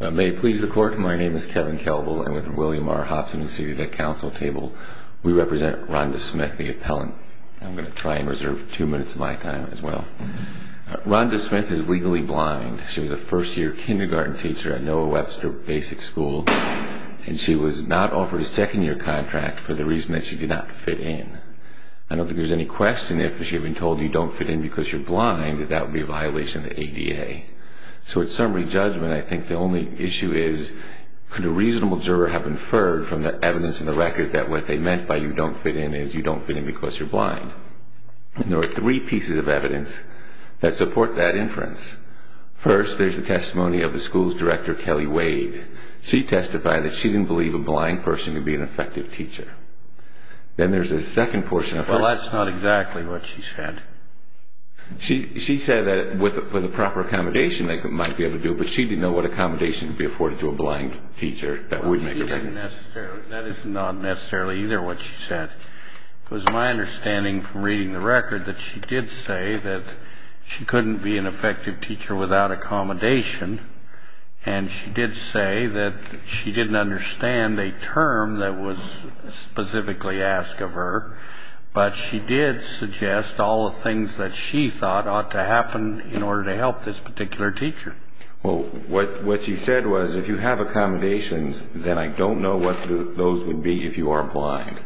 May it please the court, my name is Kevin Kelbel and with William R. Hobson and the City Tech Council table we represent Rhonda Smith, the appellant. I'm going to try and reserve two minutes of my time as well. Rhonda Smith is legally blind. She was a first year kindergarten teacher at Noah Webster Basic School and she was not offered a second year contract for the reason that she did not fit in. I don't think there's any question if she had been told you don't fit in because you're blind that that would be a violation of the ADA. So at summary judgment I think the only issue is could a reasonable juror have inferred from the evidence in the record that what they meant by you don't fit in is you don't fit in because you're blind. There are three pieces of evidence that support that inference. First there's the testimony of the school's director Kelly Wade. She testified that she didn't believe a blind person could be an effective teacher. Then there's a second portion. Well that's not exactly what she said. She said that with the proper accommodation they might be able to do it but she didn't know what accommodation would be afforded to a blind teacher. That is not necessarily either what she said. It was my understanding from reading the record that she did say that she couldn't be an effective teacher without accommodation and she did say that she didn't understand a term that was specifically asked of her but she did suggest all the things that she thought ought to happen in order to help this particular teacher. Well what she said was if you have accommodations then I don't know what those would be if you are blind.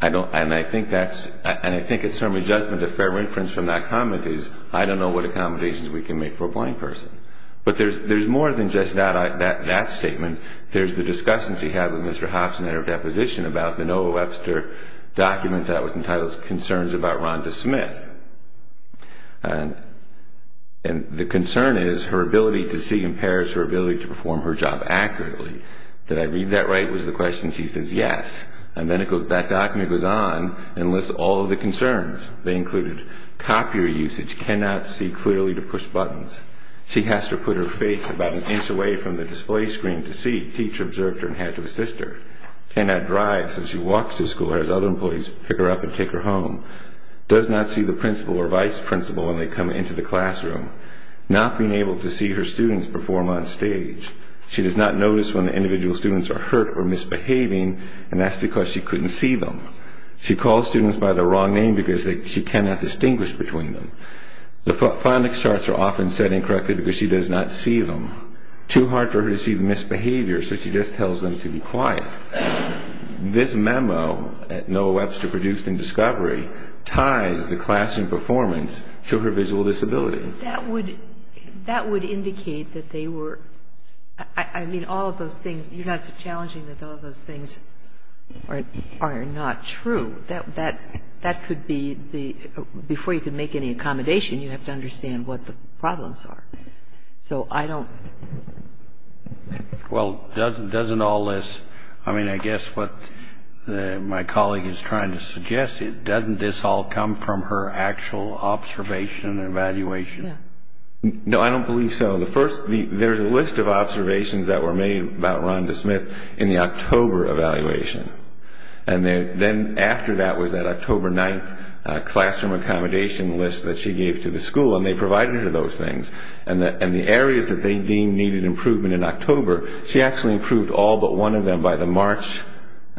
I don't and I think that's and I think at summary judgment a fair inference from that comment is I don't know what accommodations we can make for a blind person. But there's more than just that statement. There's the discussion she had with Mr. Hobson at her deposition about the Noah Webster document that was entitled Concerns about Rhonda Smith. And the concern is her ability to see impairs her ability to perform her job accurately. Did I read that right was the question she says yes. And then that document goes on and lists all of the concerns. They included copier usage cannot see clearly to push buttons. She has to put her face about an inch away from the display screen to see. Teacher observed her and had to assist her. Cannot drive so she walks to school as other employees pick her up and take her home. Does not see the principal or vice principal when they come into the classroom. Not being able to see her students perform on stage. She does not notice when the individual students are hurt or misbehaving and that's because she couldn't see them. She calls students by the wrong name because she cannot distinguish between them. The phonics charts are often set incorrectly because she does not see them. Too hard for her to see the misbehavior so she just tells them to be quiet. This memo that Noah Webster produced in Discovery ties the classroom performance to her visual disability. That would that would indicate that they were I mean all of those things you're not challenging that all of those things are not true. That that that could be the before you can make any accommodation you have to understand what the problems are. So I don't. Well doesn't doesn't all this. I mean I guess what my colleague is trying to suggest it doesn't this all come from her actual observation and evaluation. No I don't believe so. The first the there's a list of observations that were made about Rhonda Smith in the October evaluation and then after that was that October 9th classroom accommodation list that she gave to the school and they provided her those things and the areas that they deemed needed improvement in October she actually improved all but one of them by the March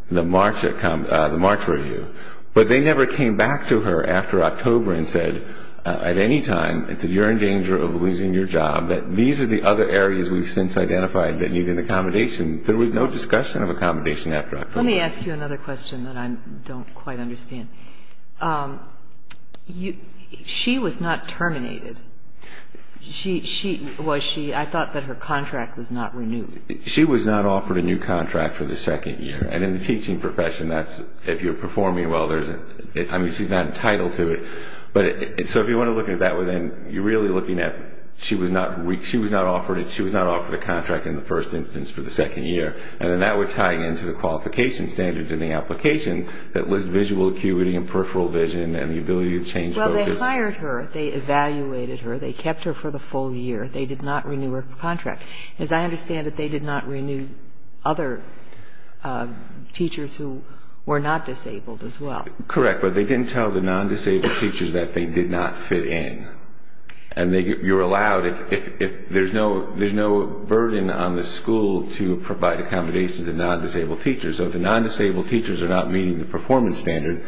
the March the March review. But they never came back to her after October and said at any time it's a you're in danger of losing your job that these are the other areas we've since identified that need an accommodation. There was no discussion of accommodation after. Let me ask you another question that I don't quite understand. She was not terminated. She she was she. I thought that her contract was not renewed. She was not offered a new contract for the second year. And in the teaching profession that's if you're performing well there isn't. I mean she's not entitled to it. But so if you want to look at that within you're really looking at. She was not weak. She was not offered and she was not offered a contract in the first instance for the second year. And then that would tie into the qualification standards in the application that was visual acuity and peripheral vision and the ability to change. Well they hired her. They evaluated her. They kept her for the full year. They did not renew her contract. As I understand it they did not renew other teachers who were not disabled as well. Correct. But they didn't tell the non-disabled teachers that they did not fit in. And they you're allowed if there's no there's no burden on the school to provide accommodations to non-disabled teachers. So if the non-disabled teachers are not meeting the performance standard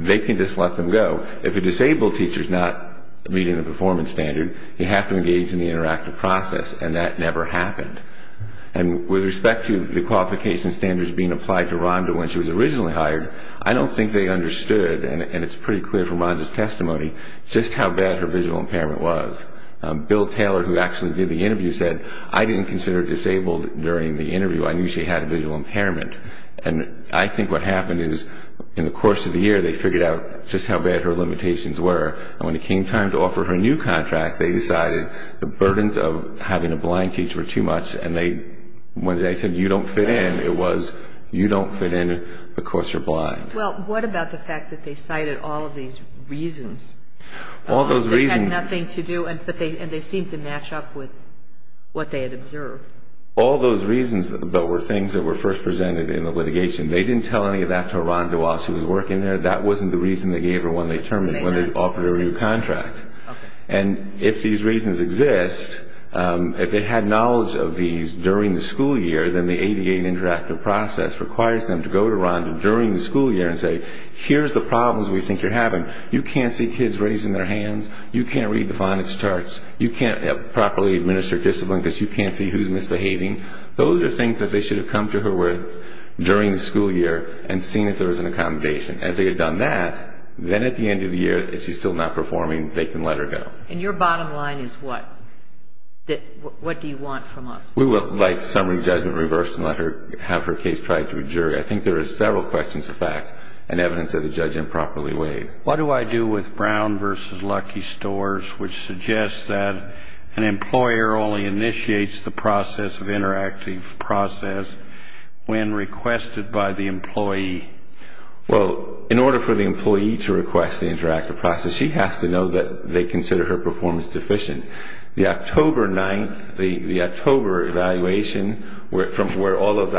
they can just let them go. If a disabled teacher is not meeting the performance standard you have to engage in the interactive process and that never happened. And with respect to the qualification standards being applied to Rhonda when she was originally hired I don't think they understood and it's pretty clear from Rhonda's testimony just how bad her visual impairment was. Bill Taylor who actually did the interview said I didn't consider her disabled during the interview. I knew she had a visual impairment. And I think what happened is in the course of the year they figured out just how bad her limitations were. And when it came time to offer her a new contract they decided the burdens of having a blind teacher were too much and they when they said you don't fit in it was you don't fit in because you're blind. Well what about the fact that they cited all of these reasons. All those reasons. They had nothing to do and they seemed to match up with what they had observed. All those reasons that were things that were first presented in the litigation. They didn't tell any of that to Rhonda while she was working there. That wasn't the reason they gave her when they terminated when they offered her a new contract. And if these reasons exist if they had knowledge of these during the school year then the ADA interactive process requires them to go to Rhonda during the school year and say here's the problems we think you're having. You can't see kids raising their hands. You can't read the phonics charts. You can't properly administer discipline because you can't see who's misbehaving. Those are things that they should have come to her with during the school year and seen if there was an accommodation. And if they had done that then at the end of the year if she's still not performing they can let her go. And your bottom line is what? What do you want from us? We would like summary judgment reversed and let her have her case tried to a jury. I think What do I do with Brown v. Lucky Stores which suggests that an employer only initiates the process of interactive process when requested by the employee? In order for the employee to request the interactive process she has to know that they consider her performance deficient. The October 9th, the October evaluation from where all those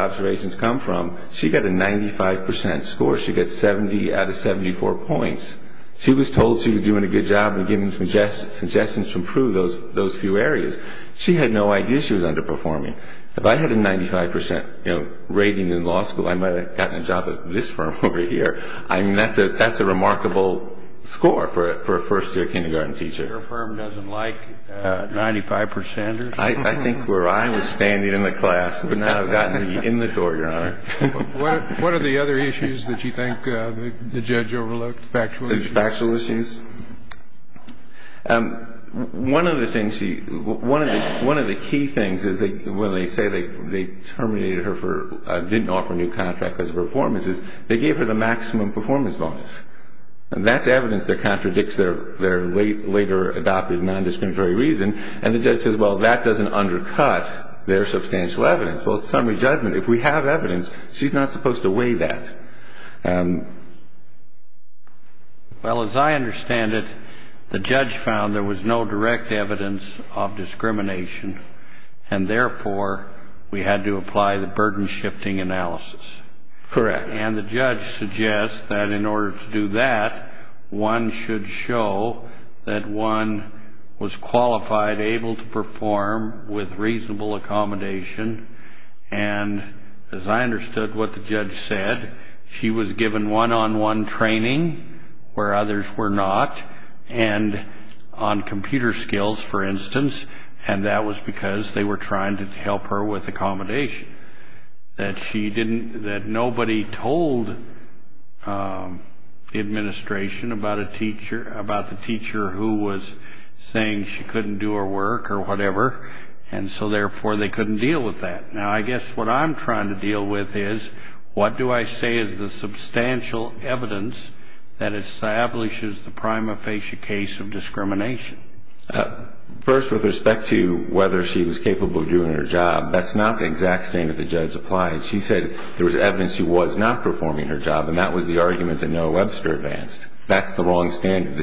She was told she was doing a good job in giving suggestions to improve those few areas. She had no idea she was underperforming. If I had a 95% rating in law school I might have gotten a job at this firm over here. I mean that's a remarkable score for a first year kindergarten teacher. Your firm doesn't like 95%ers? I think where I was standing in the class would not have gotten me in the door, Your Honor. What are the other issues that you think the judge overlooked? Factual issues? Factual issues? One of the key things is when they say they terminated her for didn't offer a new contract because of her performance is they gave her the maximum performance bonus. And that's evidence that contradicts their later adopted non-discriminatory reason. And the judge says well that doesn't undercut their substantial evidence. Well it's summary judgment. If we have evidence she's not supposed to weigh that. Well as I understand it the judge found there was no direct evidence of discrimination and therefore we had to apply the burden shifting analysis. Correct. And the judge suggests that in order to do that one should show that one was qualified able to perform with reasonable accommodation. And as I understood what the judge said she was given one-on-one training where others were not and on computer skills for instance. And that was because they were trying to help her with accommodation that she didn't that nobody told the administration about a teacher about the teacher who was saying she couldn't do her work or whatever. And so therefore they couldn't deal with that. Now I guess what I'm trying to deal with is what do I say is the substantial evidence that establishes the prima facie case of discrimination. First with respect to whether she was capable of doing her job that's not the exact standard the judge applied. She said there was evidence she was not performing her job and that was the argument that Noah Webster advanced. That's the wrong standard.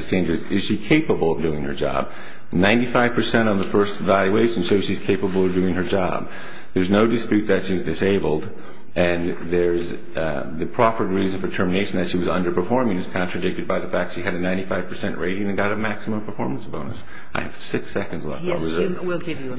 Is she capable of doing her job. Ninety five percent on the first evaluation. So she's capable of doing her job. There's no dispute that she's disabled and there's the proper reason for termination that she was underperforming is contradicted by the fact she had a 95 percent rating and got a maximum performance bonus. I have six seconds left. We'll give you.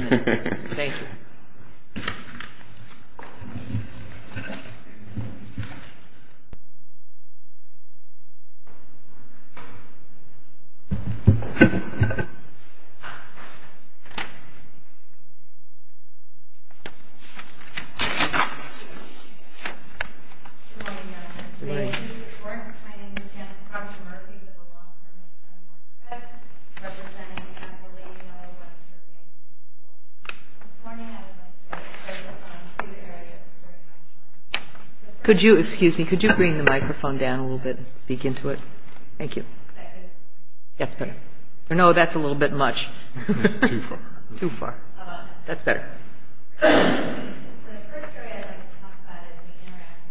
Could you excuse me. Could you bring the microphone down a little bit. Speak into it. Thank you. That's good. No that's a little bit much too far. That's better.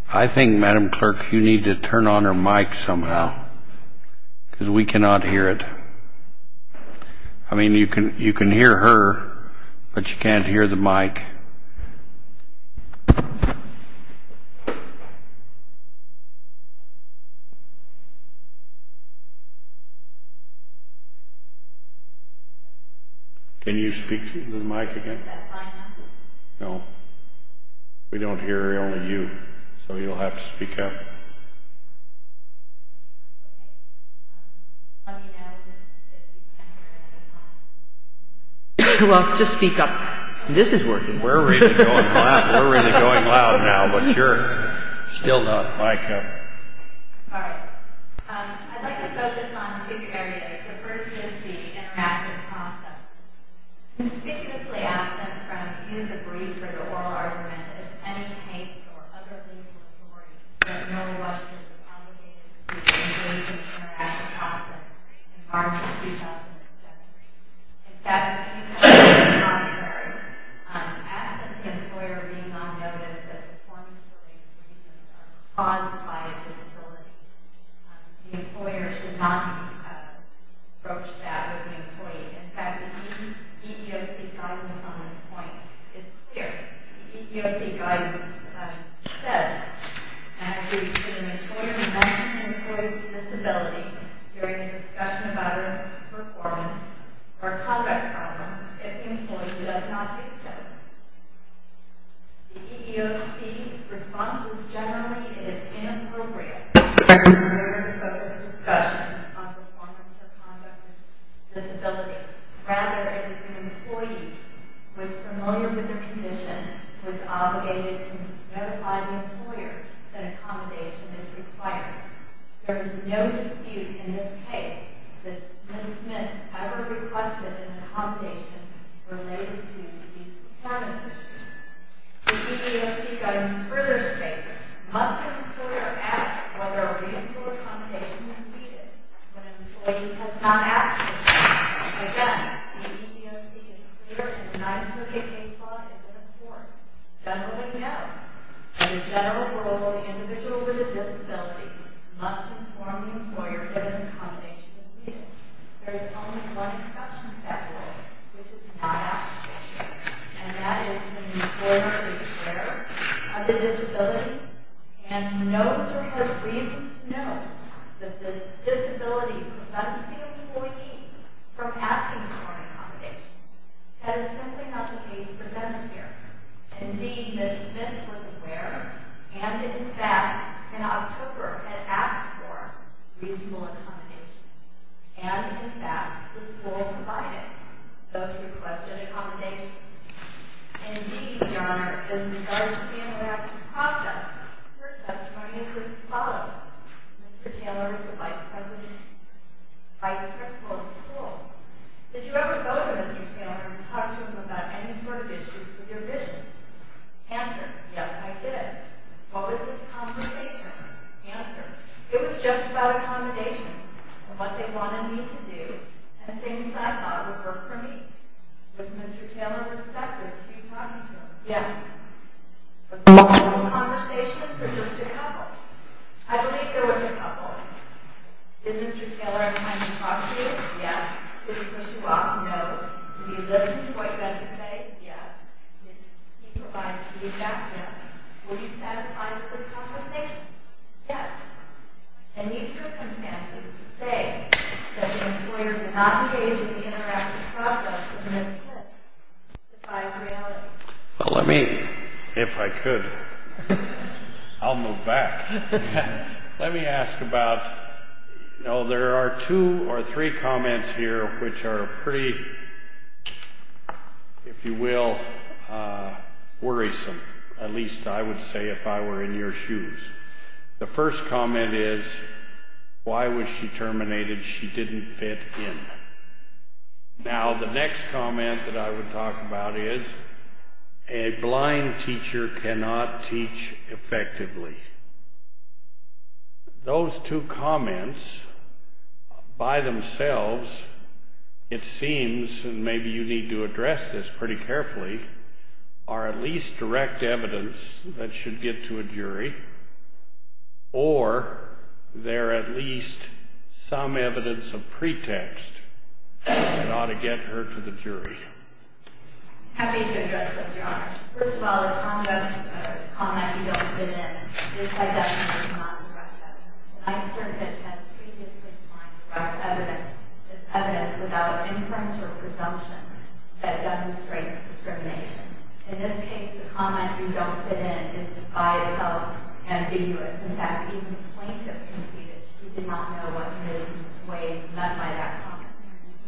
I think Madam Clerk you need to turn on her mic somehow because we cannot hear it. I mean you can you can hear her but you can't hear the mic. Can you speak to the mic again. No we don't hear only you. So you'll have to speak up. Well just speak up. This is working. We're really going loud now. But you're still not. Mic up. All right. I'd like to focus on two areas. The first is the interactive process. Conspicuously absent from either the brief or the oral argument is any case or other legal authority that no law should be obligated to engage in the interactive process in March of 2017. In February, absent the employer being on notice that the performing story's reasons are caused by a disability. The employer should not approach that with the employee. In fact the EEOC guidance on this point is clear. The EEOC guidance says that if an employer mentions an employee's disability during a discussion about a performance or conduct problem, if the employee does not do so, the employee is inappropriate for the employer to focus a discussion on performance or conduct with disability. Rather, if an employee was familiar with the condition, was obligated to notify the employer that accommodation is required, there is no dispute in this case that Ms. Smith ever requested an accommodation related to the disability issue. The EEOC guidance further states that must an employer ask whether a reasonable accommodation is needed when an employee has not asked for it. Again, the EEOC is clear to deny that a case law is in force. Generally, no. In a general rule, an individual with a disability must inform the employer that an accommodation is needed. There is only one exception to that rule, which is not asked for. And that is when the employer is aware of the disability and knows or has reasons to know that the disability prevents the employee from asking for an accommodation, that is simply not the case for them here. Indeed, Ms. Smith was aware and, in fact, in October had asked for reasonable accommodation. And, in fact, the school provided those requested accommodations. Indeed, Your Honor, in the other standard action process, her testimony is as follows. Mr. Taylor is the vice principal of the school. Did you ever go to Mr. Taylor and talk to him about any sort of issues with your vision? Answer, yes, I did. What was his accommodation? Answer, it was just about accommodation. What they wanted me to do and things I thought would work for me. Was Mr. Taylor respected? Did you talk to him? Yes. Was there a couple of conversations or just a couple? I believe there was a couple. Did Mr. Taylor have time to talk to you? Yes. Did he push you off? No. Did he listen to what you had to say? Yes. Did he provide feedback? Were you satisfied with his accommodation? Yes. In these circumstances, to say that the employer did not engage in the interactive process as best he could defies reality. Well, let me, if I could, I'll move back. Let me ask about, you know, there are two or three comments here which are pretty, if you will, worrisome. At least I would say if I were in your shoes. The first comment is, why was she terminated? She didn't fit in. Now, the next comment that I would talk about is, a blind teacher cannot teach effectively. Those two comments, by themselves, it seems, and maybe you need to address this pretty carefully, are at least direct evidence that should get to a jury, or they're at least some evidence of pretext that ought to get her to the jury. Happy to address those, Your Honor. First of all, the comment you don't fit in is by definition not direct evidence. The Ninth Circuit has previously defined direct evidence as evidence without inference or presumption that demonstrates discrimination. In this case, the comment you don't fit in is by itself ambiguous. In fact, even plaintiff can see that she did not know what to do in a way none might act upon.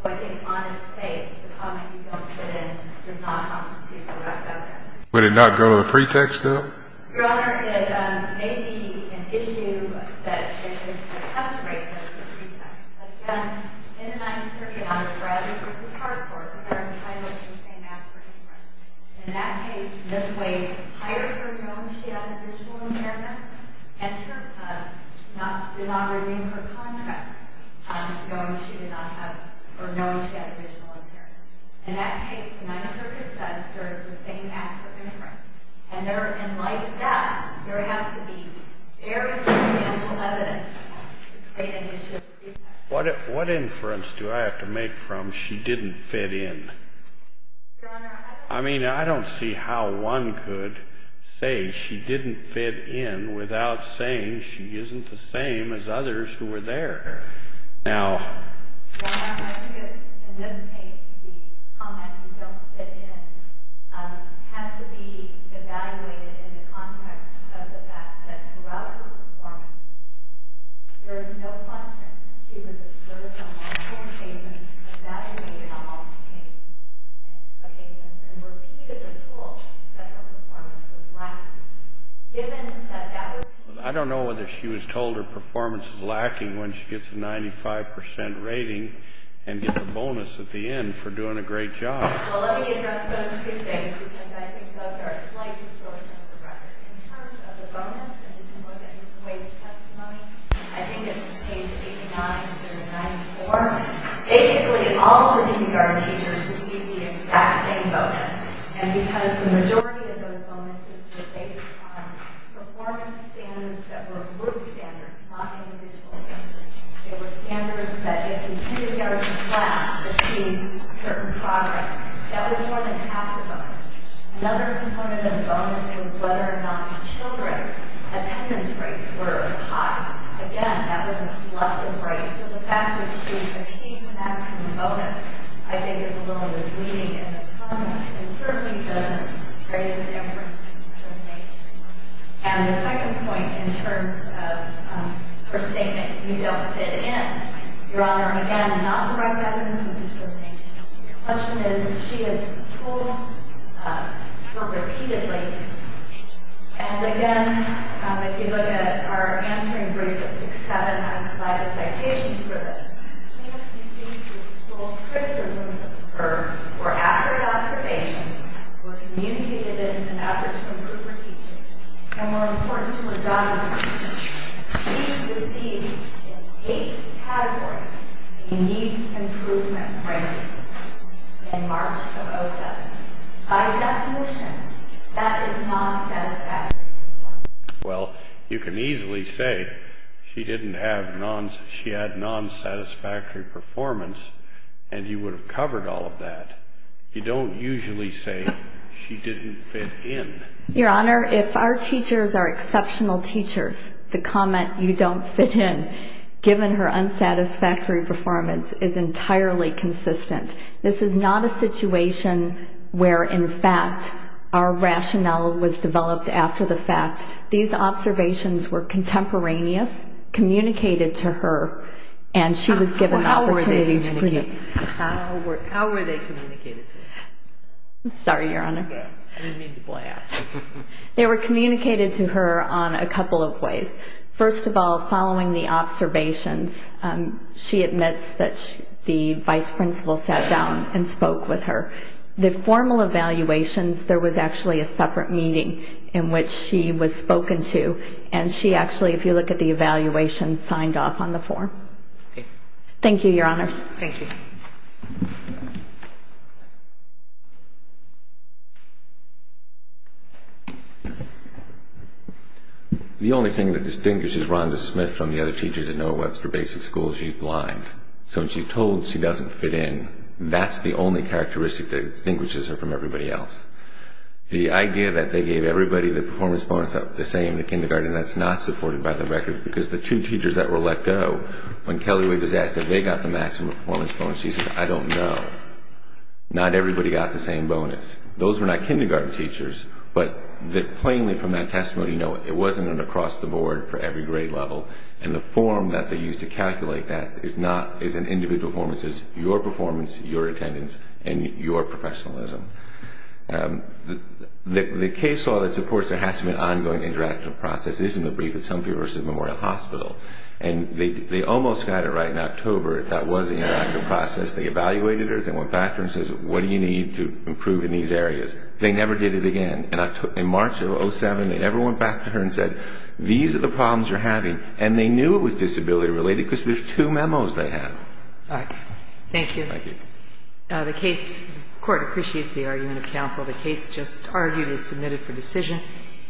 So I think, on its face, the comment you don't fit in does not constitute direct evidence. Would it not go to a pretext, though? Your Honor, it may be an issue that should be contemplated as a pretext. Again, in the Ninth Circuit, I would rather put this hard forward because I'm entitled to the same after inference. In that case, in this way, higher for knowing she has a visual impairment and to not redeem her comment, knowing she had a visual impairment. In that case, the Ninth Circuit says there is the same after inference. And like that, there has to be very substantial evidence to create an issue. What inference do I have to make from she didn't fit in? Your Honor, I... I mean, I don't see how one could say she didn't fit in without saying she isn't the same as others who were there. Now... Your Honor, I think that, in this case, the comment you don't fit in has to be evaluated in the context of the fact that throughout her performance, there is no question that she was assertive on all four statements and that is made on all occasions. And repeatedly told that her performance was lacking. Given that that was... I don't know whether she was told her performance is lacking when she gets a 95% rating and gets a bonus at the end for doing a great job. Well, let me address those two things because I think those are a slight distortion of the record. In terms of the bonus, if you look at Ms. Wade's testimony, I think it's page 89 through 94, basically all the kindergarten teachers received the exact same bonus. And because the majority of those bonuses were based on performance standards that were group standards, not individual standards, they were standards that if a kindergarten class achieved certain progress, that was more than half the bonus. Another component of the bonus was whether or not the children's attendance rates were high. Again, that was a selective rate. So the fact that she achieved that kind of bonus, I think is a little misleading in its own way and certainly doesn't create an inference to make. And the second point in terms of her statement, you don't fit in, Your Honor. Again, not the right evidence to make. The question is, she has told her repeatedly. And again, if you look at our answering brief at 6-7, I provide a citation for this. She has received the full criticism of her for accurate observation, for communicated efforts to improve her teaching, and more importantly, for dominant criticism. She received in eight categories a unique improvement rate in March of 07. By definition, that is non-satisfactory performance. Well, you can easily say she had non-satisfactory performance and you would have covered all of that. You don't usually say she didn't fit in. Your Honor, if our teachers are exceptional teachers, the comment, you don't fit in, given her unsatisfactory performance is entirely consistent. This is not a situation where, in fact, our rationale was developed after the fact. These observations were contemporaneous, communicated to her, and she was given the opportunity to create. How were they communicated to her? I'm sorry, Your Honor. I didn't mean to blast. They were communicated to her on a couple of ways. First of all, following the observations, she admits that the vice principal sat down and spoke with her. The formal evaluations, there was actually a separate meeting in which she was spoken to, and she actually, if you look at the evaluations, signed off on the form. Thank you, Your Honors. Thank you. The only thing that distinguishes Rhonda Smith from the other teachers at Norwex for basic school is she's blind. So when she's told she doesn't fit in, that's the only characteristic that distinguishes her from everybody else. The idea that they gave everybody the performance bonus of the same in kindergarten, that's not supported by the record because the two teachers that were let go, when Kelly was asked if they got the maximum performance bonus, she says, I don't know. Not everybody got the same bonus. Those were not kindergarten teachers, but plainly from that testimony, no, it wasn't an across-the-board for every grade level, and the form that they used to calculate that is an individual performance. It's your performance, your attendance, and your professionalism. The case law that supports there has to be an ongoing interactive process is in the brief at Stonefield University Memorial Hospital, and they almost got it right in October. That was the interactive process. They evaluated her. They went back to her and said, what do you need to improve in these areas? They never did it again. In March of 2007, they never went back to her and said, these are the problems you're having, and they knew it was disability-related because there's two memos they have. All right. Thank you. Thank you. The court appreciates the argument of counsel. The case just argued is submitted for decision.